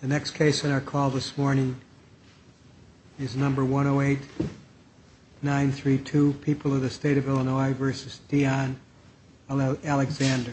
The next case on our call this morning is number 108-932, People of the State of Illinois v. Dion Alexander.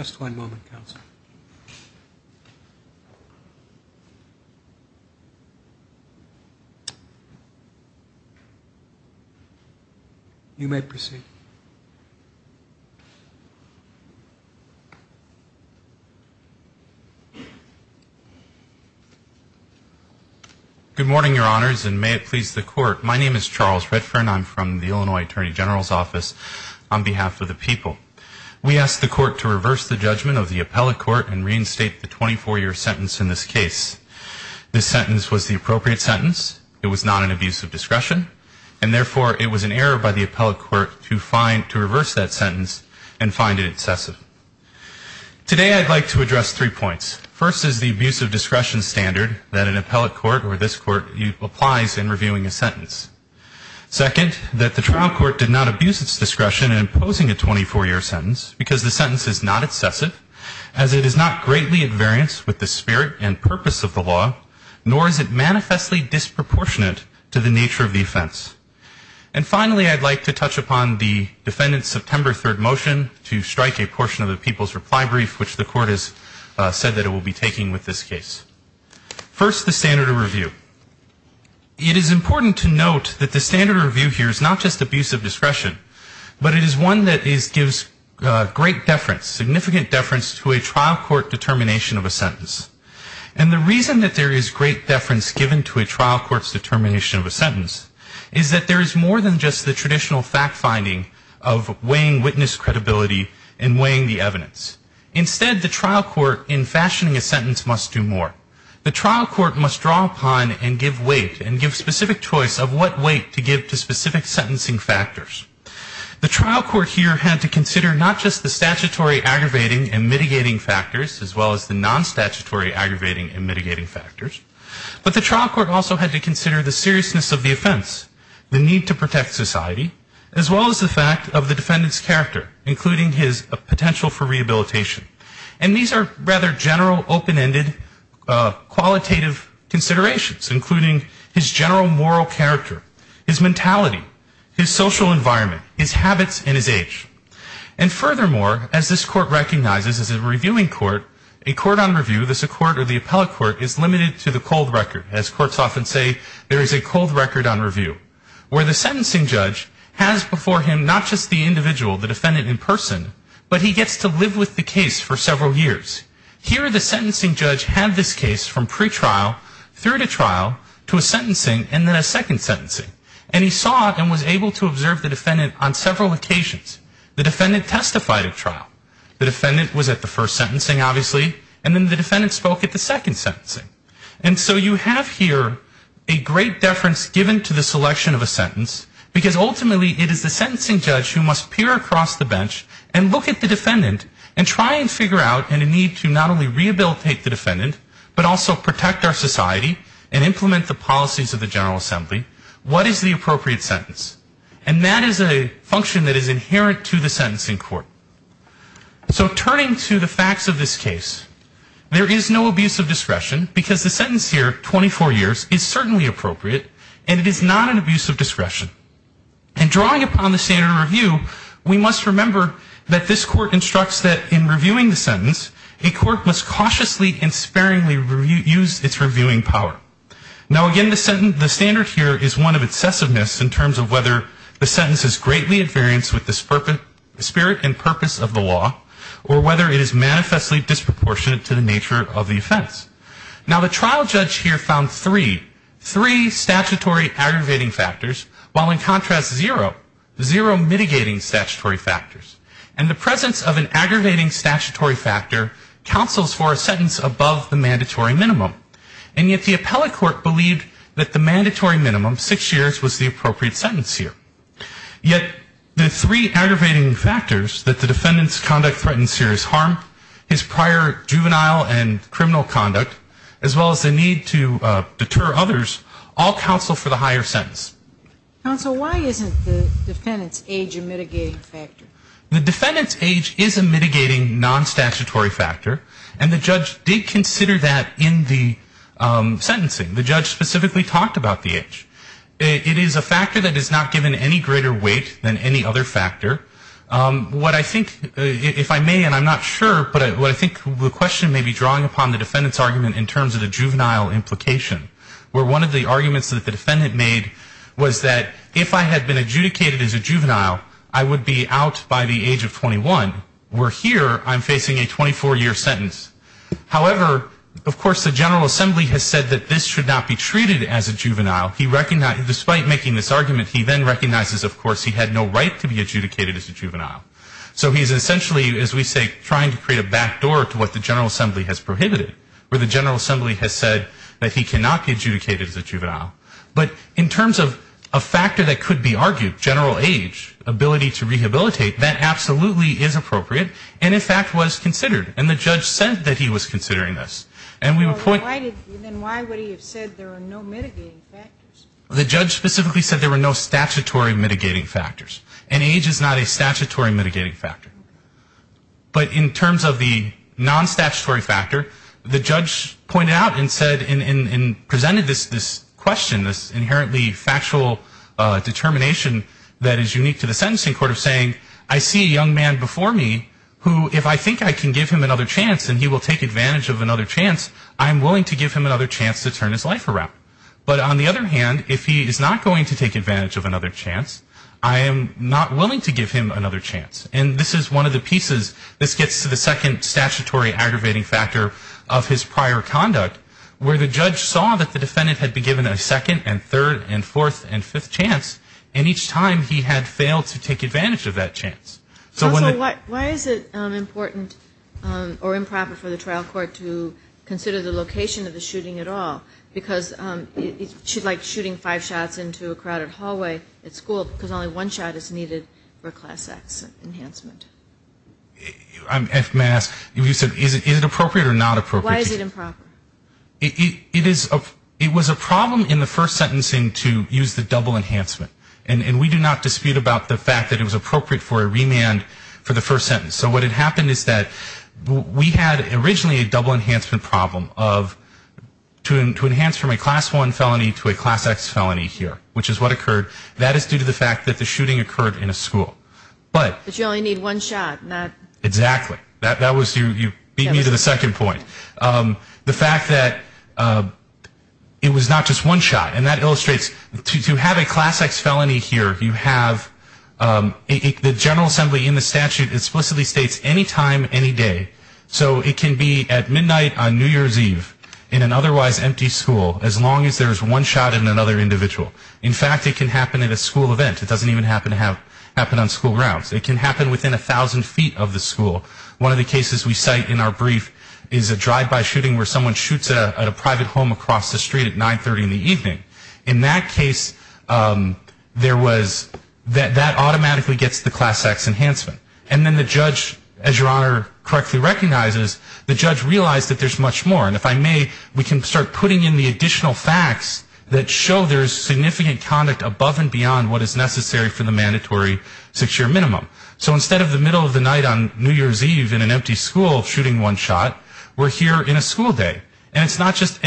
Just one moment, Counselor. You may proceed. Good morning, Your Honors, and may it please the Court. My name is Charles Redfern. I'm from the Illinois Attorney General's Office on behalf of the people. We ask the Court to reverse the judgment of the appellate court and reinstate the 24-year sentence in this case. This sentence was the appropriate sentence. It was not an abuse of discretion, and therefore, it was an error by the appellate court to find to reverse that sentence and find it excessive. Today I'd like to address three points. First is the abuse of discretion standard that an appellate court or this court applies in reviewing a sentence. Second, that the trial court did not abuse its discretion in imposing a 24-year sentence because the sentence is not excessive, as it is not greatly invariant with the spirit and purpose of the law, nor is it manifestly disproportionate to the nature of the offense. And finally, I'd like to touch upon the defendant's September 3rd motion to strike a portion of the people's reply brief, which the Court has said that it will be taking with this case. First, the standard of review. It is important to note that the standard of review here is not just abuse of discretion, but it is one that gives great deference, significant deference to a trial court determination of a sentence. And the reason that there is great deference given to a trial court's determination of a sentence is that there is more than just the traditional fact-finding of weighing witness credibility and weighing the evidence. Instead, the trial court, in fashioning a sentence, must do more. The trial court must draw upon and give weight and give specific choice of what weight to give to specific sentencing factors. The trial court here had to consider not just the statutory aggravating and mitigating factors, as well as the non-statutory aggravating and mitigating factors, but the trial court also had to consider the seriousness of the offense, the need to protect society, as well as the fact of the defendant's character, including his potential for rehabilitation. And these are rather general, open-ended, qualitative considerations, including his general moral character, his mentality, his social environment, his habits, and his age. And furthermore, as this court recognizes as a reviewing court, a court on review, thus a court or the appellate court, is limited to the cold record, as courts often say, there is a cold record on review, where the sentencing judge has before him not just the individual, the defendant in person, but he gets to live with the case for several years. Here the sentencing judge had this case from pretrial through to trial to a sentencing and then a second sentencing. And he saw and was able to observe the defendant on several occasions. The defendant testified at trial. The defendant was at the first sentencing, obviously, and then the defendant spoke at the second sentencing. And so you have here a great deference given to the selection of a sentence, because ultimately it is the sentencing judge who must peer across the bench and look at the defendant and try and figure out in a need to not only rehabilitate the defendant, but also protect our society and implement the policies of the General Assembly, what is the appropriate sentence. And that is a function that is inherent to the sentencing court. So turning to the facts of this case, there is no abuse of discretion, because the sentence here, 24 years, is certainly appropriate, and it is not an abuse of discretion. And drawing upon the standard of review, we must remember that this court instructs that in reviewing the sentence, a court must cautiously and sparingly use its reviewing power. Now, again, the standard here is one of excessiveness in terms of whether the sentence is greatly invariant with the spirit and purpose of the law, or whether it is manifestly disproportionate to the nature of the offense. Now, the trial judge here found three, three statutory aggravating factors, while in contrast, zero, zero mitigating statutory factors. And the presence of an aggravating statutory factor counsels for a sentence above the mandatory minimum. And yet the appellate court believed that the mandatory minimum, six years, was the appropriate sentence here. Yet the three aggravating factors that the defendant's conduct threatens serious harm, his prior juvenile and criminal conduct, as well as the need to deter others, all counsel for the higher sentence. Counsel, why isn't the defendant's age a mitigating factor? The defendant's age is a mitigating non-statutory factor, and the judge did consider that in the sentencing. The judge specifically talked about the age. It is a factor that is not given any greater weight than any other factor. What I think, if I may, and I'm not sure, but what I think the question may be drawing upon the defendant's argument in terms of the juvenile implication, where one of the arguments that the defendant made was that if I had been adjudicated as a juvenile, I would be out by the age of 21, where here I'm facing a 24-year sentence. However, of course, the General Assembly has said that this should not be treated as a juvenile. Despite making this argument, he then recognizes, of course, he had no right to be adjudicated as a juvenile. So he's essentially, as we say, trying to create a back door to what the General Assembly has prohibited, where the General Assembly has said that he cannot be adjudicated as a juvenile. But in terms of a factor that could be argued, general age, ability to rehabilitate, that absolutely is appropriate and, in fact, was considered. And the judge said that he was considering this. And we would point to that. Then why would he have said there are no mitigating factors? The judge specifically said there were no statutory mitigating factors. And age is not a statutory mitigating factor. But in terms of the non-statutory factor, the judge pointed out and said and presented this question, this inherently factual determination that is unique to the sentencing court of saying I see a young man before me who, if I think I can give him another chance and he will take advantage of another chance, I'm willing to give him another chance to turn his life around. But on the other hand, if he is not going to take advantage of another chance, I am not willing to give him another chance. And this is one of the pieces, this gets to the second statutory aggravating factor of his prior conduct, where the judge saw that the defendant had been given a second and third and So why is it important or improper for the trial court to consider the location of the shooting at all? Because it's like shooting five shots into a crowded hallway at school because only one shot is needed for class X enhancement. If may I ask, is it appropriate or not appropriate? Why is it improper? It was a problem in the first sentencing to use the double enhancement. And we do not dispute about the fact that it was appropriate for a remand for the first sentence. So what had happened is that we had originally a double enhancement problem of to enhance from a class I felony to a class X felony here, which is what occurred. That is due to the fact that the shooting occurred in a school. But you only need one shot. Exactly. You beat me to the second point. The fact that it was not just one shot. And that illustrates, to have a class X felony here, you have the General Assembly in the statute explicitly states any time, any day. So it can be at midnight on New Year's Eve in an otherwise empty school, as long as there is one shot in another individual. In fact, it can happen in a school event. It doesn't even happen on school grounds. It can happen within 1,000 feet of the school. One of the cases we cite in our brief is a drive-by shooting where someone shoots at a private home across the street at 930 in the evening. In that case, there was that automatically gets the class X enhancement. And then the judge, as Your Honor correctly recognizes, the judge realized that there's much more. And if I may, we can start putting in the additional facts that show there's significant conduct above and beyond what is necessary for the mandatory six-year minimum. So instead of the middle of the night on New Year's Eve in an empty school shooting one shot, we're here in a school day. And it's not just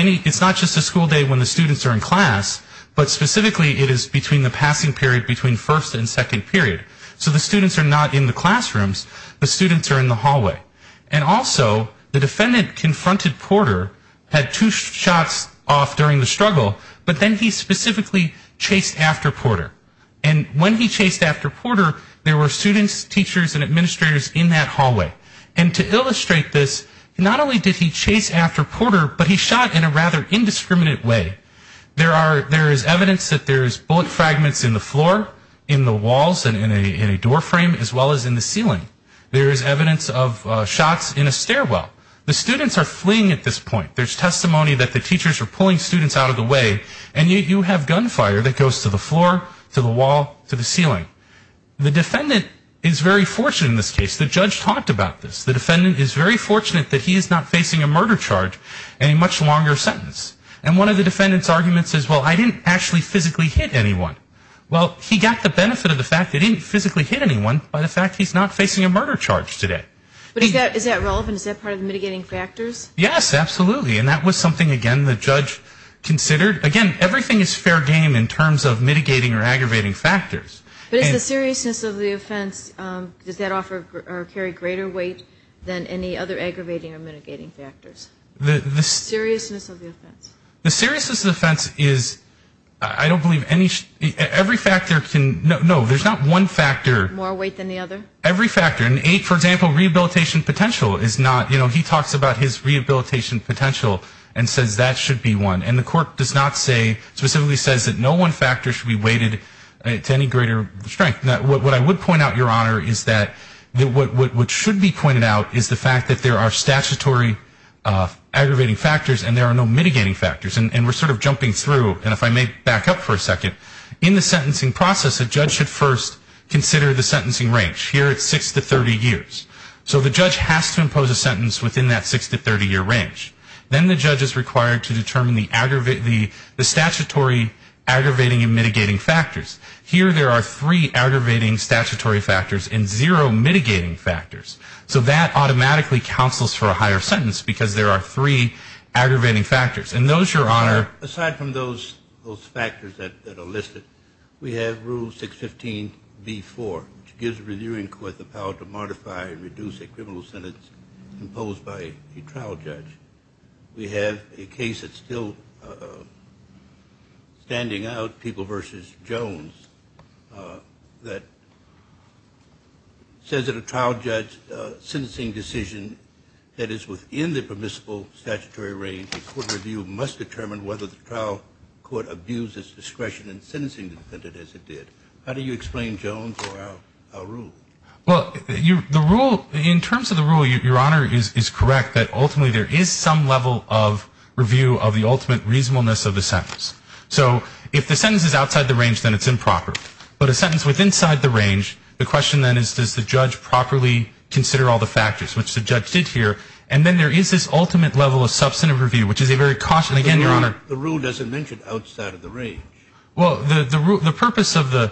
a school day when the students are in class, but specifically it is between the passing period between first and second period. So the students are not in the classrooms. The students are in the hallway. And also the defendant confronted Porter, had two shots off during the struggle, but then he specifically chased after Porter. And when he chased after Porter, there were students, teachers, and administrators in that hallway. And to illustrate this, not only did he chase after Porter, but he shot in a rather indiscriminate way. There is evidence that there's bullet fragments in the floor, in the walls, and in a door frame, as well as in the ceiling. There is evidence of shots in a stairwell. The students are fleeing at this point. There's testimony that the teachers are pulling students out of the way, and yet you have gunfire that goes to the floor, to the wall, to the ceiling. The defendant is very fortunate in this case. The judge talked about this. The defendant is very fortunate that he is not facing a murder charge and a much longer sentence. And one of the defendant's arguments is, well, I didn't actually physically hit anyone. Well, he got the benefit of the fact he didn't physically hit anyone by the fact he's not facing a murder charge today. But is that relevant? Is that part of mitigating factors? Yes, absolutely. And that was something, again, the judge considered. Again, everything is fair game in terms of mitigating or aggravating factors. But is the seriousness of the offense, does that offer or carry greater weight than any other aggravating or mitigating factors? The seriousness of the offense. The seriousness of the offense is, I don't believe any, every factor can, no, there's not one factor. More weight than the other? Every factor. And, for example, rehabilitation potential is not, you know, he talks about his rehabilitation potential and says that should be one. And the court does not say, specifically says that no one factor should be weighted to any greater strength. Now, what I would point out, Your Honor, is that what should be pointed out is the fact that there are statutory aggravating factors and there are no mitigating factors. And we're sort of jumping through. And if I may back up for a second, in the sentencing process, a judge should first consider the sentencing range. Here it's six to 30 years. So the judge has to impose a sentence within that six to 30-year range. Then the judge is required to determine the statutory aggravating and mitigating factors. Here there are three aggravating statutory factors and zero mitigating factors. So that automatically counsels for a higher sentence because there are three aggravating factors. And those, Your Honor ---- Aside from those factors that are listed, we have Rule 615B4, which gives the reviewing court the power to modify and reduce a criminal sentence imposed by a trial judge. We have a case that's still standing out, People v. Jones, that says that a trial judge's sentencing decision that is within the permissible statutory range, a court review must determine whether the trial court abuses discretion in sentencing the defendant as it did. How do you explain, Jones, our rule? Well, the rule, in terms of the rule, Your Honor, is correct, that ultimately there is some level of review of the ultimate reasonableness of the sentence. So if the sentence is outside the range, then it's improper. But a sentence withinside the range, the question then is, does the judge properly consider all the factors, which the judge did here. And then there is this ultimate level of substantive review, which is a very cautious ---- The rule doesn't mention outside of the range. Well, the purpose of the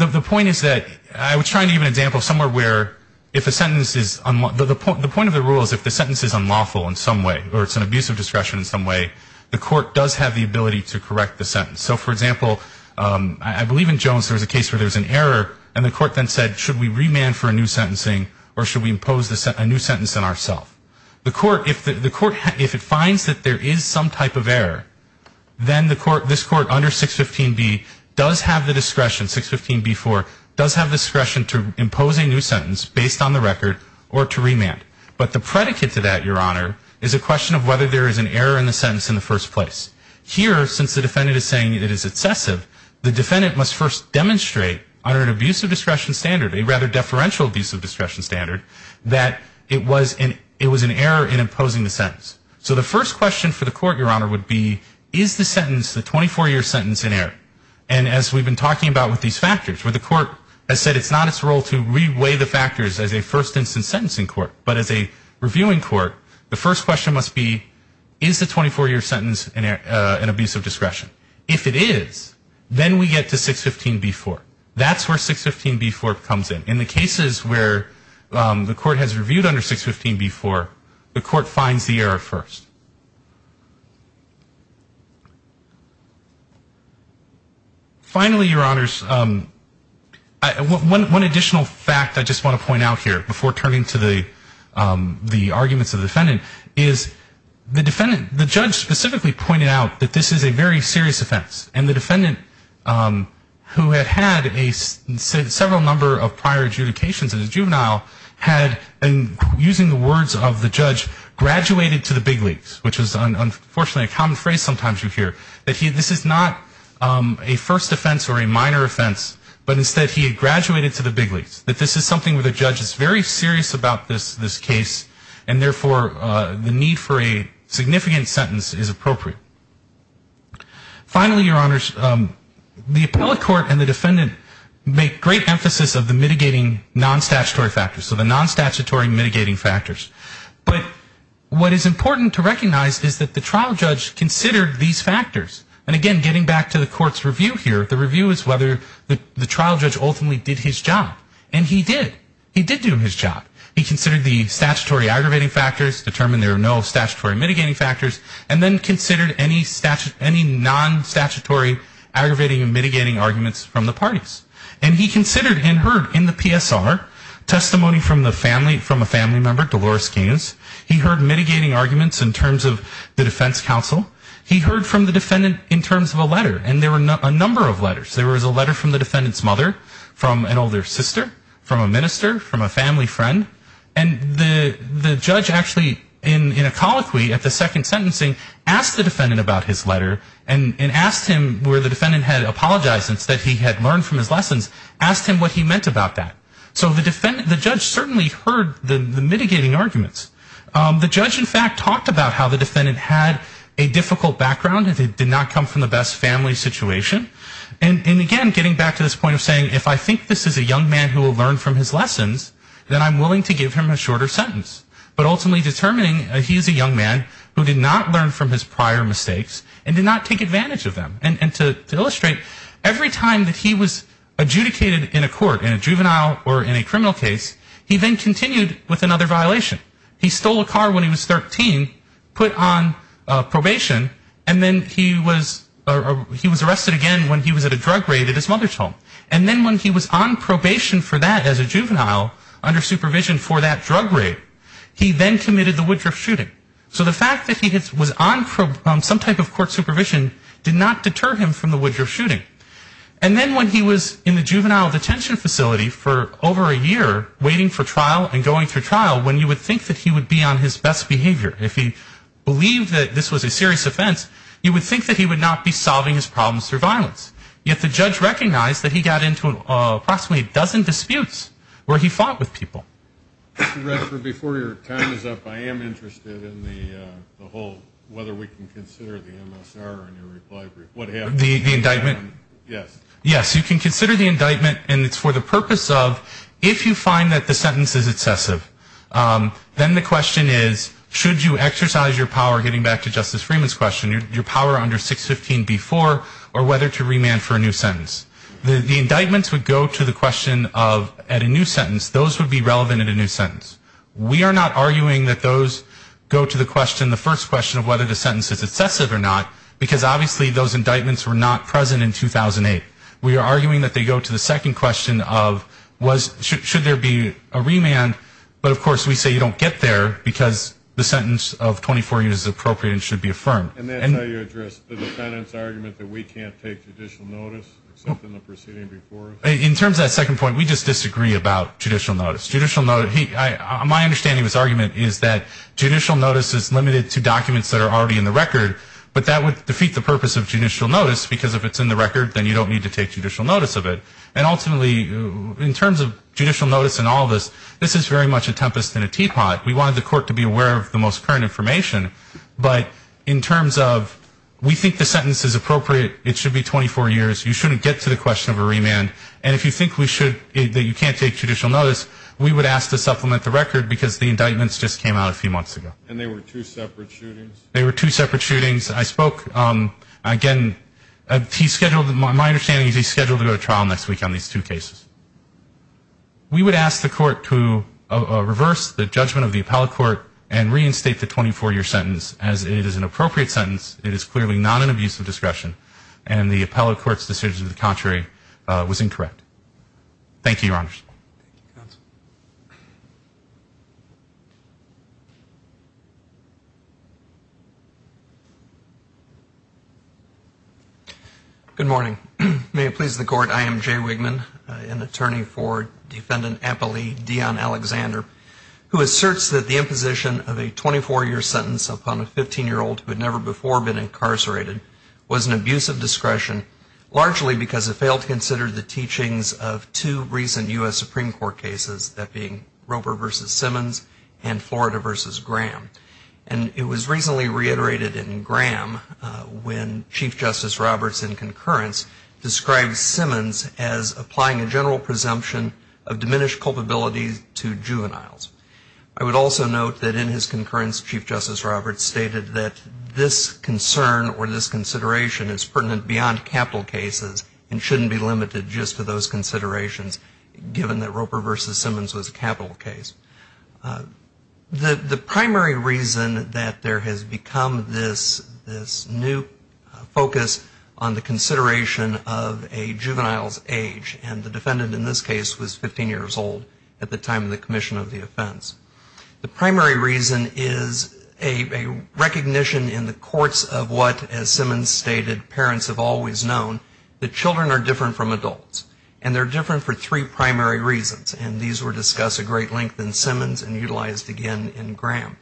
---- The point is that I was trying to give an example of somewhere where if a sentence is unlawful, the point of the rule is if the sentence is unlawful in some way or it's an abuse of discretion in some way, the court does have the ability to correct the sentence. So, for example, I believe in Jones there was a case where there was an error and the court then said, should we remand for a new sentencing or should we impose a new sentence on ourself? The court, if it finds that there is some type of error, then this court under 615B does have the discretion, 615B-4, does have discretion to impose a new sentence based on the record or to remand. But the predicate to that, Your Honor, is a question of whether there is an error in the sentence in the first place. Here, since the defendant is saying it is excessive, the defendant must first demonstrate under an abuse of discretion standard, a rather deferential abuse of discretion standard, that it was an error in imposing the sentence. So the first question for the court, Your Honor, would be, is the sentence, the 24-year sentence, an error? And as we've been talking about with these factors, where the court has said it's not its role to reweigh the factors as a first instance sentencing court, but as a reviewing court, the first question must be, is the 24-year sentence an abuse of discretion? If it is, then we get to 615B-4. That's where 615B-4 comes in. In the cases where the court has reviewed under 615B-4, the court finds the error first. Finally, Your Honors, one additional fact I just want to point out here, before turning to the arguments of the defendant, is the judge specifically pointed out that this is a very serious offense. And the defendant, who had had a several number of prior adjudications as a juvenile, had, using the words of the judge, graduated to the big leagues, which is unfortunately a common phrase sometimes you hear, that this is not a first offense or a minor offense, but instead he had graduated to the big leagues, that this is something where the judge is very serious about this case, and therefore the need for a significant sentence is appropriate. Finally, Your Honors, the appellate court and the defendant make great emphasis of the mitigating non-statutory factors, so the non-statutory mitigating factors. But what is important to recognize is that the trial judge considered these factors. And again, getting back to the court's review here, the review is whether the trial judge ultimately did his job. And he did. He did do his job. He considered the statutory aggravating factors, determined there are no statutory mitigating factors, and then considered any non-statutory aggravating and mitigating arguments from the parties. And he considered and heard in the PSR testimony from the family, from a family member, Dolores Kings. He heard mitigating arguments in terms of the defense counsel. He heard from the defendant in terms of a letter. And there were a number of letters. There was a letter from the defendant's mother, from an older sister, from a minister, from a family friend. And the judge actually in a colloquy at the second sentencing asked the defendant about his letter and asked him where the defendant had apologized since he had learned from his lessons, asked him what he meant about that. So the judge certainly heard the mitigating arguments. The judge, in fact, talked about how the defendant had a difficult background. He did not come from the best family situation. And again, getting back to this point of saying, if I think this is a young man who will learn from his lessons, then I'm willing to give him a shorter sentence. But ultimately determining he is a young man who did not learn from his prior mistakes and did not take advantage of them. And to illustrate, every time that he was adjudicated in a court, in a juvenile or in a criminal case, he then continued with another violation. He stole a car when he was 13, put on probation, and then he was arrested again when he was at a drug raid at his mother's home. And then when he was on probation for that as a juvenile under supervision for that drug raid, he then committed the Woodruff shooting. So the fact that he was on some type of court supervision did not deter him from the Woodruff shooting. And then when he was in the juvenile detention facility for over a year, waiting for trial and going through trial, when you would think that he would be on his best behavior, if he believed that this was a serious offense, you would think that he would not be solving his problems through violence. Yet the judge recognized that he got into approximately a dozen disputes where he fought with people. Before your time is up, I am interested in the whole whether we can consider the MSR in your reply brief. The indictment? Yes. Yes, you can consider the indictment. And it's for the purpose of if you find that the sentence is excessive, then the question is should you exercise your power, getting back to Justice Freeman's question, your power under 615B4 or whether to remand for a new sentence. The indictments would go to the question of at a new sentence, those would be relevant in a new sentence. We are not arguing that those go to the question, the first question of whether the sentence is excessive or not, because obviously those indictments were not present in 2008. We are arguing that they go to the second question of should there be a remand, but of course we say you don't get there because the sentence of 24 years is appropriate and should be affirmed. And that's how you address the defendant's argument that we can't take judicial notice, except in the proceeding before us? In terms of that second point, we just disagree about judicial notice. My understanding of his argument is that judicial notice is limited to documents that are already in the record, but that would defeat the purpose of judicial notice because if it's in the record, then you don't need to take judicial notice of it. And ultimately, in terms of judicial notice in all of this, this is very much a tempest in a teapot. We wanted the court to be aware of the most current information, but in terms of we think the sentence is appropriate, it should be 24 years, you shouldn't get to the question of a remand, and if you think we should, that you can't take judicial notice, we would ask to supplement the record because the indictments just came out a few months ago. And they were two separate shootings? They were two separate shootings. I spoke, again, my understanding is he's scheduled to go to trial next week on these two cases. We would ask the court to reverse the judgment of the appellate court and reinstate the 24-year sentence and the appellate court's decision to the contrary was incorrect. Thank you, Your Honors. Good morning. May it please the Court, I am Jay Wigman, an attorney for Defendant Appley Dion Alexander, who asserts that the imposition of a 24-year sentence upon a 15-year-old who had never before been incarcerated was an abuse of discretion, largely because it failed to consider the teachings of two recent U.S. Supreme Court cases, that being Roper v. Simmons and Florida v. Graham. And it was recently reiterated in Graham when Chief Justice Roberts in concurrence described Simmons as applying a general presumption of diminished culpability to juveniles. I would also note that in his concurrence Chief Justice Roberts stated that this concern or this consideration is pertinent beyond capital cases and shouldn't be limited just to those considerations, given that Roper v. Simmons was a capital case. The primary reason that there has become this new focus on the consideration of a juvenile's age, and the defendant in this case was 15 years old at the time of the commission of the offense. The primary reason is a recognition in the courts of what, as Simmons stated, parents have always known, that children are different from adults. And they're different for three primary reasons, and these were discussed at great length in Simmons and utilized again in Graham.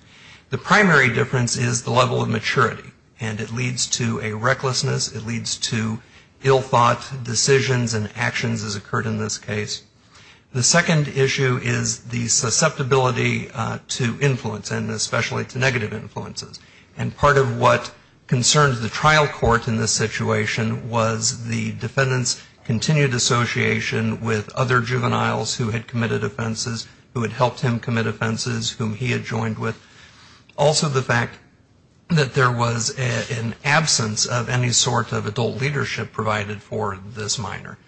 The primary difference is the level of maturity, and it leads to a recklessness, it leads to ill-thought decisions and actions as occurred in this case. The second issue is the susceptibility to influence, and especially to negative influences. And part of what concerns the trial court in this situation was the defendant's continued association with other juveniles who had committed offenses, who had helped him commit offenses, whom he had joined with. Also the fact that there was an absence of any sort of adult leadership provided for this minor.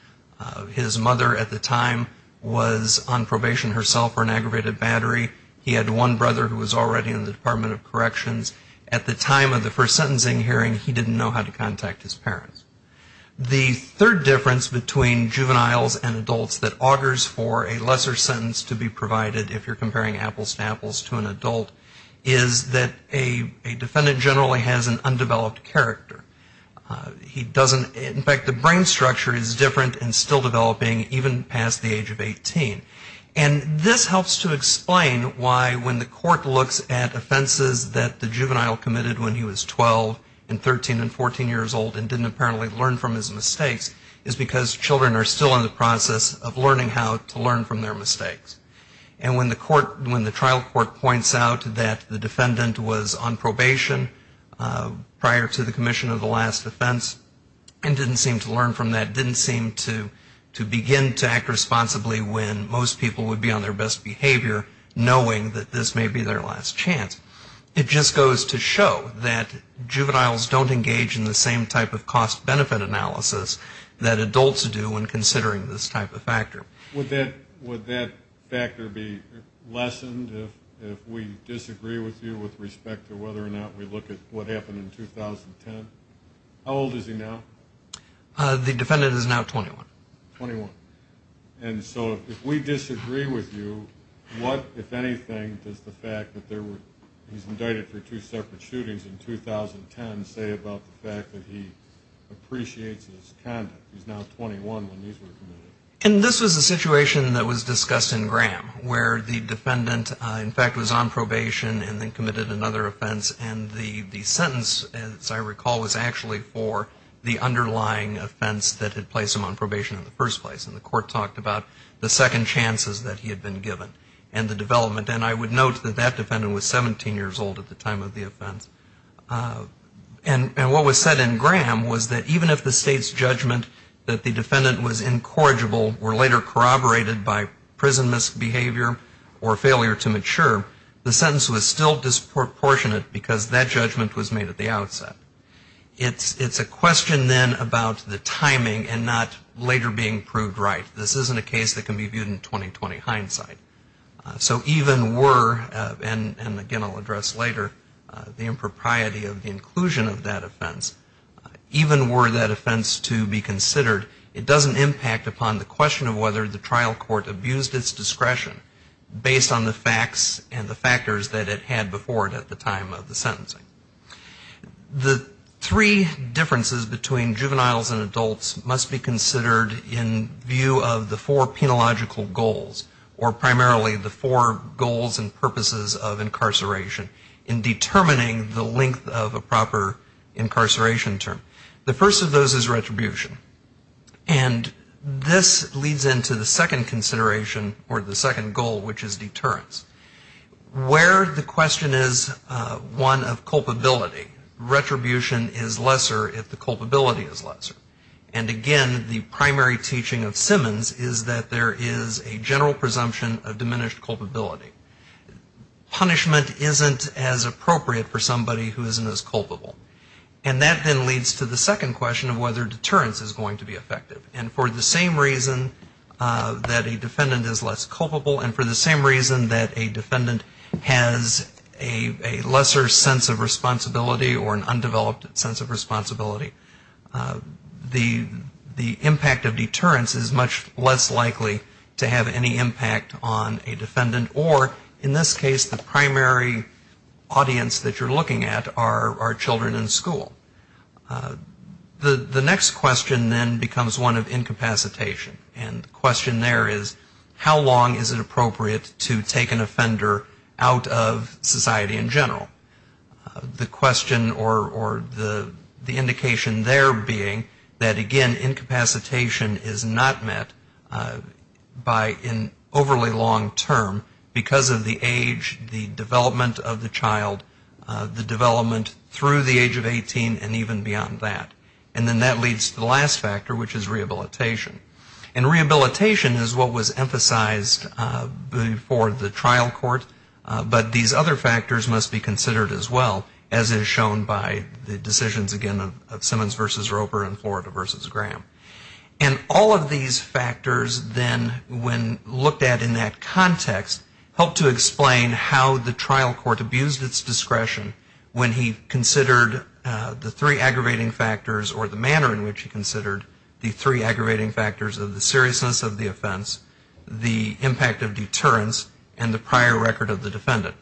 His mother at the time was on probation herself for an aggravated battery. He had one brother who was already in the Department of Corrections. At the time of the first sentencing hearing, he didn't know how to contact his parents. The third difference between juveniles and adults that augurs for a lesser sentence to be provided, if you're comparing apples to apples to an adult, is that a defendant generally has an undeveloped character. In fact, the brain structure is different and still developing even past the age of 18. And this helps to explain why when the court looks at offenses that the juvenile committed when he was 12 and 13 and 14 years old and didn't apparently learn from his mistakes, is because children are still in the process of learning how to learn from their mistakes. And when the trial court points out that the defendant was on probation prior to the commission of the last offense and didn't seem to learn from that, didn't seem to begin to act responsibly when most people would be on their best behavior, knowing that this may be their last chance, it just goes to show that juveniles don't engage in the same type of cost-benefit analysis that adults do when considering this type of factor. Would that factor be lessened if we disagree with you with respect to whether or not we look at what happened in 2010? How old is he now? The defendant is now 21. Twenty-one. And so if we disagree with you, what, if anything, does the fact that he's indicted for two separate shootings in 2010 say about the fact that he appreciates his conduct? He's now 21 when these were committed. And this was a situation that was discussed in Graham, where the defendant, in fact, was on probation and then committed another offense, and the sentence, as I recall, was actually for the underlying offense that had placed him on probation in the first place. And the court talked about the second chances that he had been given and the development. And I would note that that defendant was 17 years old at the time of the offense. And what was said in Graham was that even if the state's judgment that the defendant was incorrigible or later corroborated by prison misbehavior or failure to mature, the sentence was still disproportionate because that judgment was made at the outset. It's a question then about the timing and not later being proved right. This isn't a case that can be viewed in 20-20 hindsight. So even were, and again I'll address later, the impropriety of the inclusion of that offense, even were that offense to be considered, it doesn't impact upon the question of whether the trial court abused its discretion based on the facts and the factors that it had before it at the time of the sentencing. The three differences between juveniles and adults must be considered in view of the four penological goals or primarily the four goals and purposes of incarceration in determining the length of a proper incarceration term. The first of those is retribution. And this leads into the second consideration or the second goal, which is deterrence. Where the question is one of culpability, retribution is lesser if the culpability is lesser. And again, the primary teaching of Simmons is that there is a general presumption of diminished culpability. Punishment isn't as appropriate for somebody who isn't as culpable. And that then leads to the second question of whether deterrence is going to be effective. And for the same reason that a defendant is less culpable and for the same reason that a defendant has a lesser sense of the impact of deterrence is much less likely to have any impact on a defendant or in this case the primary audience that you're looking at are children in school. The next question then becomes one of incapacitation. And the question there is how long is it appropriate to take an offender out of society in general? The question or the indication there being that again, incapacitation is not met by an overly long term because of the age, the development of the child, the development through the age of 18 and even beyond that. And then that leads to the last factor, which is rehabilitation. And rehabilitation is what was emphasized before the trial court. But these other factors must be considered as well as is shown by the decisions again of Simmons v. Roper and Florida v. Graham. And all of these factors then when looked at in that context help to explain how the trial court abused its discretion when he considered the three aggravating factors or the manner in which he considered the three aggravating factors of the seriousness of the record of the defendant.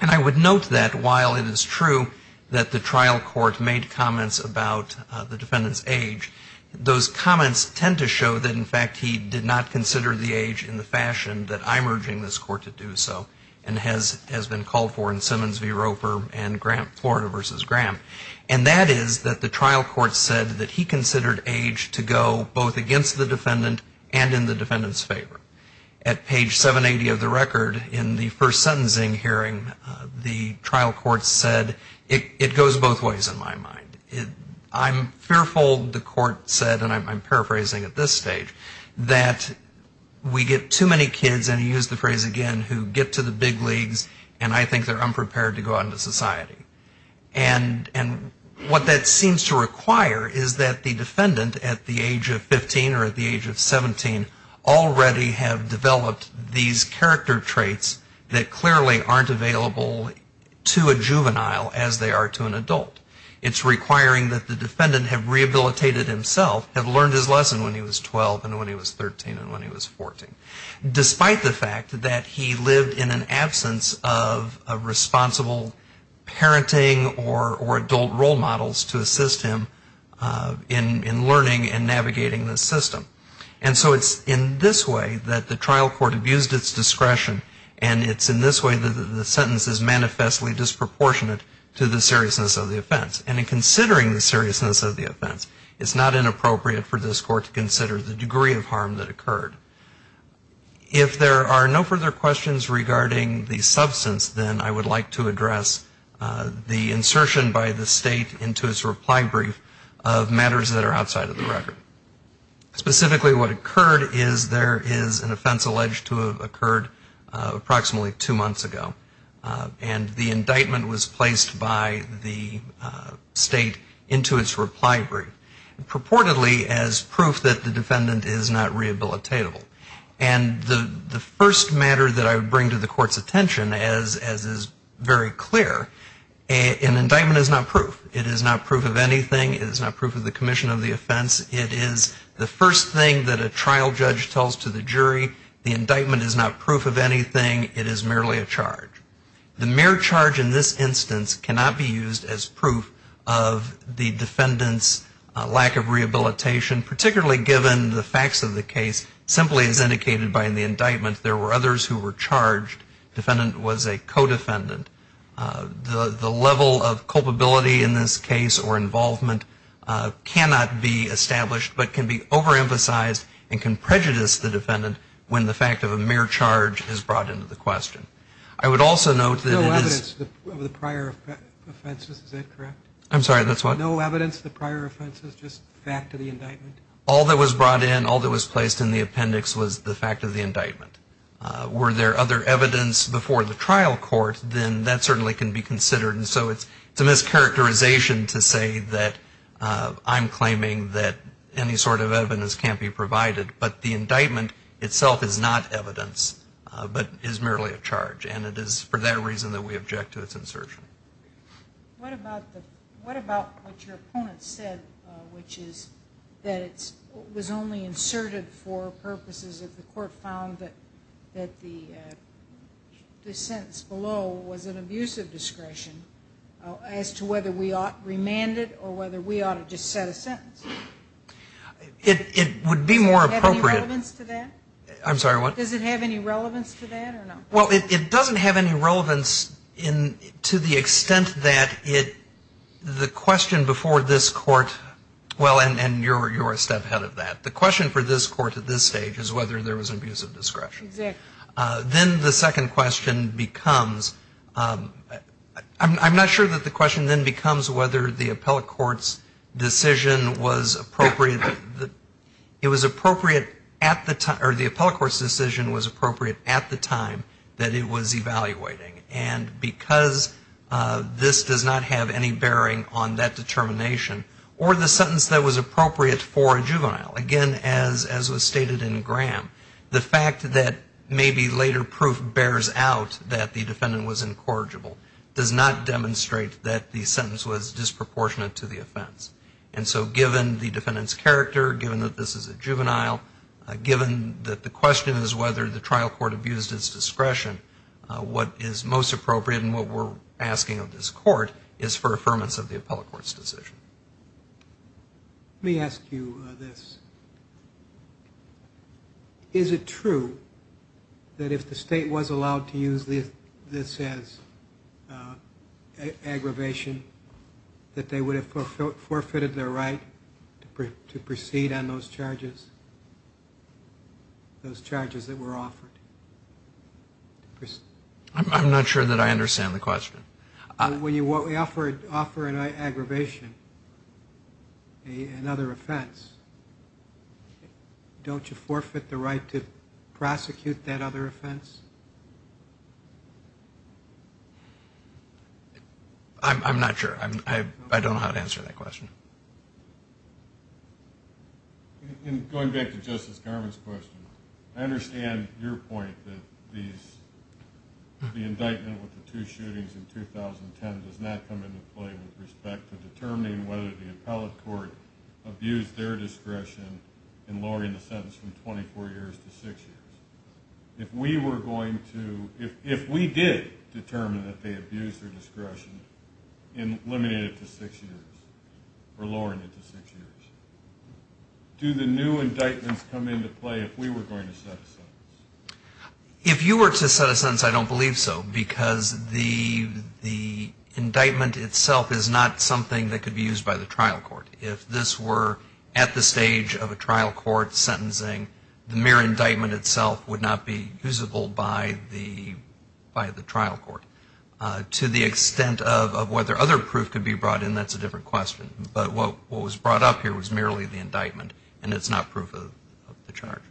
And I would note that while it is true that the trial court made comments about the defendant's age, those comments tend to show that in fact he did not consider the age in the fashion that I'm urging this court to do so and has been called for in Simmons v. Roper and Florida v. Graham. And that is that the trial court said that he considered age to go both against the defendant and in the defendant's favor. At page 780 of the record in the first sentencing hearing, the trial court said it goes both ways in my mind. I'm fearful, the court said, and I'm paraphrasing at this stage, that we get too many kids, and he used the phrase again, who get to the big leagues and I think they're unprepared to go out into society. And what that seems to require is that the defendant at the age of 15 or at the age of 17 already have developed these character traits that clearly aren't available to a juvenile as they are to an adult. It's requiring that the defendant have rehabilitated himself, have learned his lesson when he was 12 and when he was 13 and when he was 14. Despite the fact that he lived in an absence of a responsible parenting or adult role models to assist him in learning and navigating the system. And so it's in this way that the trial court abused its discretion and it's in this way that the sentence is manifestly disproportionate to the seriousness of the offense. And in considering the seriousness of the offense, it's not inappropriate for this court to consider the degree of harm that occurred. If there are no further questions regarding the substance, then I would like to address the insertion by the state into its reply brief of matters that are outside of the record. Specifically what occurred is there is an offense alleged to have occurred approximately two months ago. And the indictment was placed by the state into its reply brief. Purportedly as proof that the defendant is not rehabilitatable. And the first matter that I would bring to the court's attention as is very clear, an indictment is not proof. It is not proof of anything. It is not proof of the commission of the offense. It is the first thing that a trial judge tells to the jury. The indictment is not proof of anything. It is merely a charge. The mere charge in this instance cannot be used as proof of the defendant's lack of rehabilitation, particularly given the facts of the case simply as indicated by the indictment. There were others who were charged. Defendant was a co-defendant. The level of culpability in this case or involvement cannot be established but can be overemphasized and can prejudice the defendant when the fact of a mere charge is brought into the question. I would also note that it is. No evidence of the prior offenses, is that correct? I'm sorry, that's what? No evidence of the prior offenses, just the fact of the indictment. All that was brought in, all that was placed in the appendix was the fact of the indictment. Were there other evidence before the trial court, then that certainly can be considered. So it's a mischaracterization to say that I'm claiming that any sort of evidence can't be provided. But the indictment itself is not evidence, but is merely a charge. And it is for that reason that we object to its insertion. What about what your opponent said, which is that it was only inserted for purposes if the court found that the sentence below was an abuse of discretion. As to whether we ought to remand it or whether we ought to just set a sentence? It would be more appropriate. Does it have any relevance to that? I'm sorry, what? Does it have any relevance to that or not? Well, it doesn't have any relevance to the extent that the question before this court, well, and you're a step ahead of that. The question for this court at this stage is whether there was abuse of discretion. Exactly. Then the second question becomes, I'm not sure that the question then becomes whether the appellate court's decision was appropriate, it was appropriate at the time, or the appellate court's decision was appropriate at the time that it was evaluating. And because this does not have any bearing on that determination, or the sentence that was appropriate for a juvenile, again, as was stated in Graham, the fact that maybe later proof bears out that the defendant was incorrigible does not demonstrate that the sentence was disproportionate to the offense. And so given the defendant's character, given that this is a juvenile, given that the question is whether the trial court abused its discretion, what is most appropriate and what we're asking of this court is for affirmance of the appellate court's decision. Let me ask you this. Is it true that if the state was allowed to use this as aggravation, that they would have forfeited their right to proceed on those charges, those charges that were offered? I'm not sure that I understand the question. When you offer an aggravation, another offense, don't you forfeit the right to prosecute that other offense? I'm not sure. I don't know how to answer that question. Going back to Justice Garvin's question, I understand your point that the indictment with the two shootings in 2010 does not come into play with respect to determining whether the appellate court abused their discretion in lowering the sentence from 24 years to 6 years. If we did determine that they abused their discretion and eliminated it to 6 years or lowered it to 6 years, do the new indictments come into play if we were going to set a sentence? If you were to set a sentence, I don't believe so, because the indictment itself is not something that could be used by the trial court. If this were at the stage of a trial court sentencing, the mere indictment itself would not be usable by the trial court. To the extent of whether other proof could be brought in, that's a different question. But what was brought up here was merely the indictment, and it's not proof of the charge.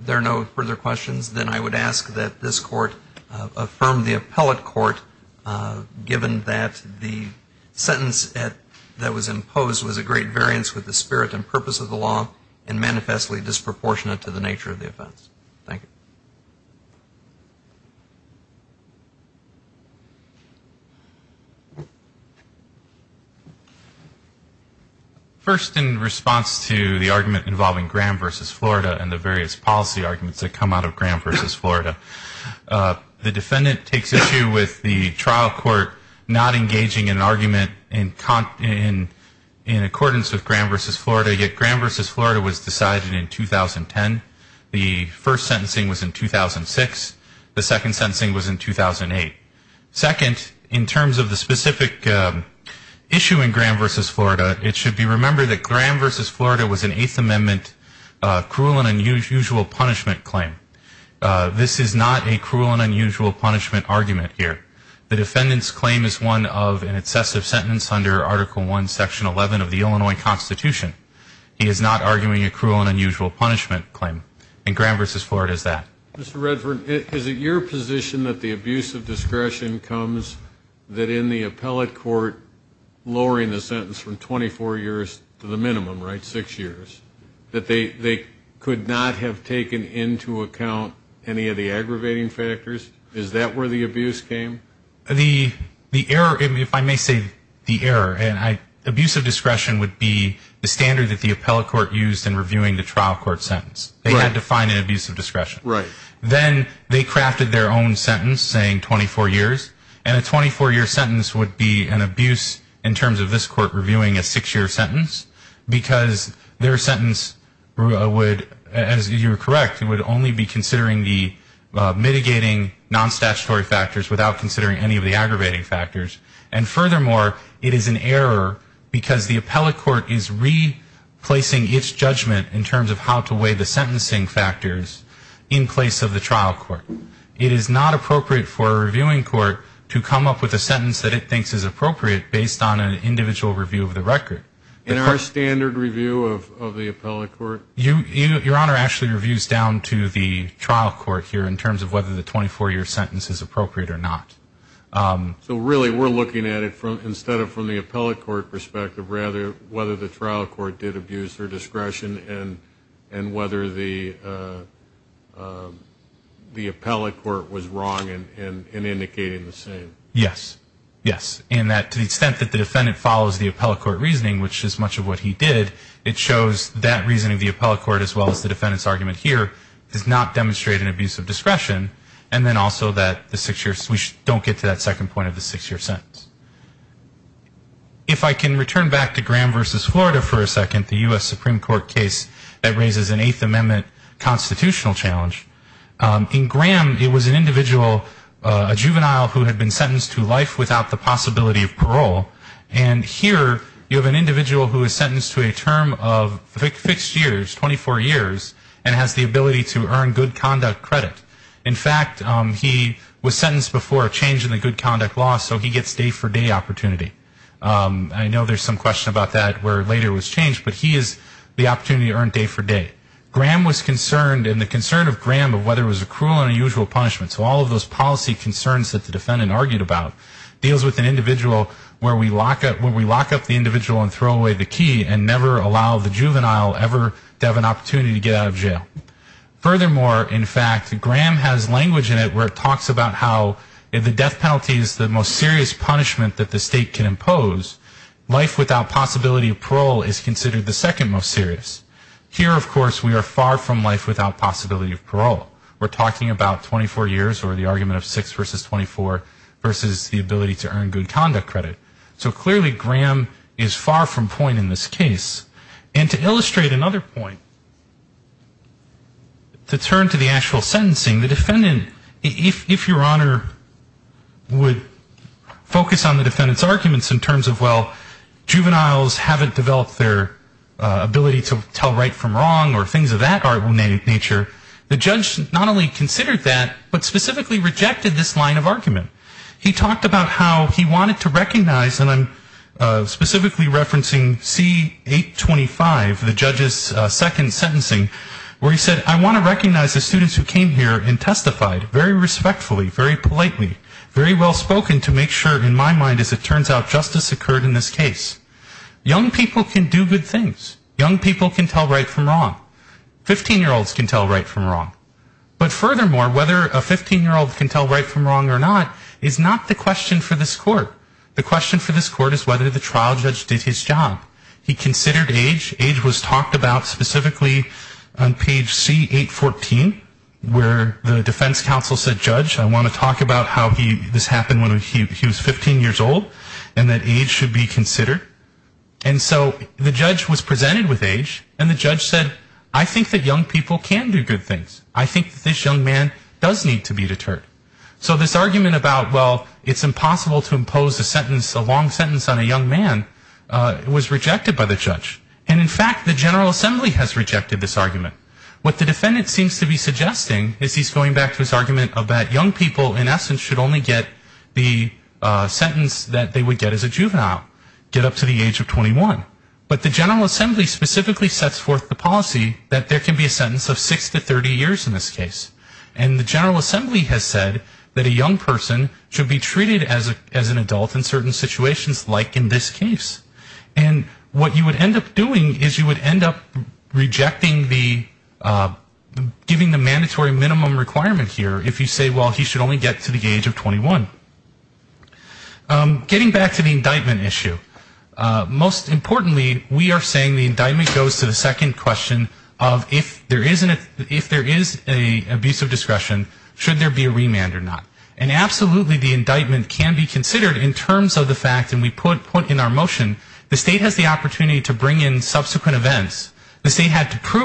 If there are no further questions, then I would ask that this Court affirm the appellate court given that the sentence that was imposed was a great variance with the spirit and purpose of the law and manifestly disproportionate to the nature of the offense. Thank you. First, in response to the argument involving Graham v. Florida and the various policy arguments that come out of Graham v. Florida, the defendant takes issue with the trial court not engaging in an argument in accordance with Graham v. Florida, yet Graham v. Florida was decided in 2010. The first sentencing was in 2006. The second sentencing was in 2008. Second, in terms of the specific issue in Graham v. Florida, it should be remembered that Graham v. Florida was an Eighth Amendment cruel and unusual punishment claim. This is not a cruel and unusual punishment argument here. The defendant's claim is one of an excessive sentence under Article I, Section 11 of the Illinois Constitution. He is not arguing a cruel and unusual punishment claim, and Graham v. Florida is that. Mr. Redford, is it your position that the abuse of discretion comes that in the appellate court, lowering the sentence from 24 years to the minimum, right, six years, that they could not have taken into account any of the aggravating factors? Is that where the abuse came? The error, if I may say the error, and abuse of discretion would be the standard that the appellate court used in reviewing the trial court sentence. They had to find an abuse of discretion. Right. Then they crafted their own sentence saying 24 years, and a 24-year sentence would be an abuse in terms of this court reviewing a six-year sentence, because their sentence would, as you are correct, would only be considering the mitigating non-statutory factors without considering any of the aggravating factors. And furthermore, it is an error because the appellate court is replacing its judgment in terms of how to weigh the sentencing factors in place of the trial court. It is not appropriate for a reviewing court to come up with a sentence that it thinks is appropriate based on an individual review of the record. In our standard review of the appellate court? Your Honor actually reviews down to the trial court here in terms of whether the 24-year sentence is appropriate or not. So really we're looking at it instead of from the appellate court perspective, rather whether the trial court did abuse their discretion and whether the appellate court was wrong in indicating the same. Yes. Yes. And to the extent that the defendant follows the appellate court reasoning, which is much of what he did, it shows that reasoning of the appellate court as well as the defendant's argument here does not demonstrate an abuse of discretion, and then also that the six-year we don't get to that second point of the six-year sentence. If I can return back to Graham v. Florida for a second, the U.S. Supreme Court case that raises an Eighth Amendment constitutional challenge, in Graham it was an individual, a juvenile who had been sentenced to life without the possibility of parole. And here you have an individual who is sentenced to a term of fixed years, 24 years, and has the ability to earn good conduct credit. In fact, he was sentenced before a change in the good conduct law, so he gets day-for-day opportunity. I know there's some question about that where later it was changed, but he has the opportunity to earn day-for-day. Graham was concerned, and the concern of Graham of whether it was a cruel and unusual punishment, so all of those policy concerns that the defendant argued about deals with an individual where we lock up the individual and throw away the key and never allow the juvenile ever to have an opportunity to get out of jail. Furthermore, in fact, Graham has language in it where it talks about how the death penalty is the most serious punishment that the state can impose. Life without possibility of parole is considered the second most serious. Here, of course, we are far from life without possibility of parole. We're talking about 24 years or the argument of six versus 24 versus the ability to earn good conduct credit. So clearly Graham is far from point in this case. And to illustrate another point, to turn to the actual sentencing, the defendant, if your Honor, would focus on the defendant's arguments in terms of, well, juveniles haven't developed their ability to tell right from wrong or things of that nature, the judge not only considered that, but specifically rejected this line of argument. He talked about how he wanted to recognize, and I'm specifically referencing C825, the judge's second sentencing, where he said, I want to recognize the students who came here and testified very respectfully, very politely, very well spoken to make sure, in my mind, as it turns out, justice occurred in this case. Young people can do good things. Young people can tell right from wrong. Fifteen-year-olds can tell right from wrong. But furthermore, whether a 15-year-old can tell right from wrong or not is not the question for this court. The question for this court is whether the trial judge did his job. He considered age. Age was talked about specifically on page C814, where the defense counsel said, judge, I want to talk about how this happened when he was 15 years old and that age should be considered. And so the judge was presented with age, and the judge said, I think that young people can do good things. I think that this young man does need to be deterred. So this argument about, well, it's impossible to impose a sentence, a long sentence on a young man, was rejected by the judge. And, in fact, the General Assembly has rejected this argument. What the defendant seems to be suggesting is he's going back to his argument of that young people, in essence, should only get the sentence that they would get as a juvenile, get up to the age of 21. But the General Assembly specifically sets forth the policy that there can be a sentence of six to 30 years in this case. And the General Assembly has said that a young person should be treated as an adult in certain situations, like in this case. And what you would end up doing is you would end up rejecting the, giving the mandatory minimum requirement here, if you say, well, he should only get to the age of 21. Getting back to the indictment issue, most importantly, we are saying the indictment goes to the second question of, if there is an, if there is an abuse of discretion, should there be a remand or not? And absolutely the indictment can be considered in terms of the fact, and we put in our motion, the state has the opportunity to bring in subsequent events. The state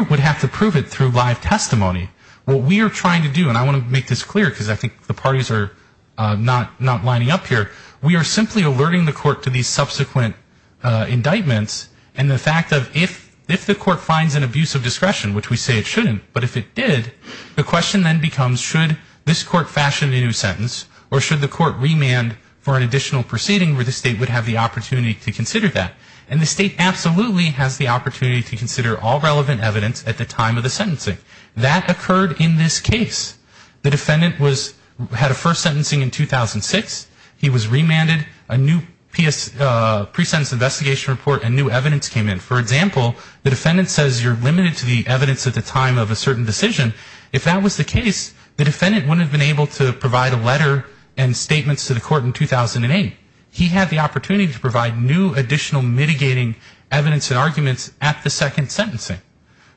would have to prove it through live testimony. What we are trying to do, and I want to make this clear, because I think the parties are not lining up here, we are simply alerting the court to these subsequent indictments, and the fact of if the court finds an abuse of discretion, which we say it shouldn't, but if it did, the question then becomes, should this court fashion a new sentence, or should the court remand for an additional proceeding where the state would have the opportunity to consider that? And the state absolutely has the opportunity to consider all relevant evidence at the time of the sentencing. That occurred in this case. The defendant was, had a first sentencing in 2006. He was remanded. A new pre-sentence investigation report and new evidence came in. For example, the defendant says you're limited to the evidence at the time of a certain decision. If that was the case, the defendant wouldn't have been able to provide a letter and statements to the court in 2008. He had the opportunity to provide new additional mitigating evidence and arguments at the second sentencing.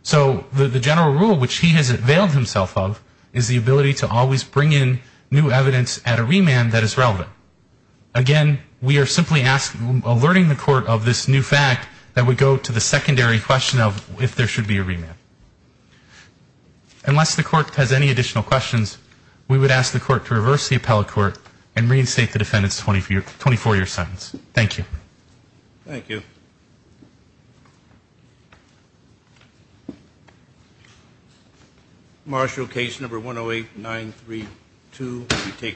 So the general rule, which he has availed himself of, is the ability to always bring in new evidence at a remand that is relevant. Again, we are simply asking, alerting the court of this new fact that would go to the secondary question of if there should be a remand. Unless the court has any additional questions, we would ask the court to reverse the appellate court and reinstate the defendant's 24-year sentence. Thank you. Thank you. Marshall, case number 108-932.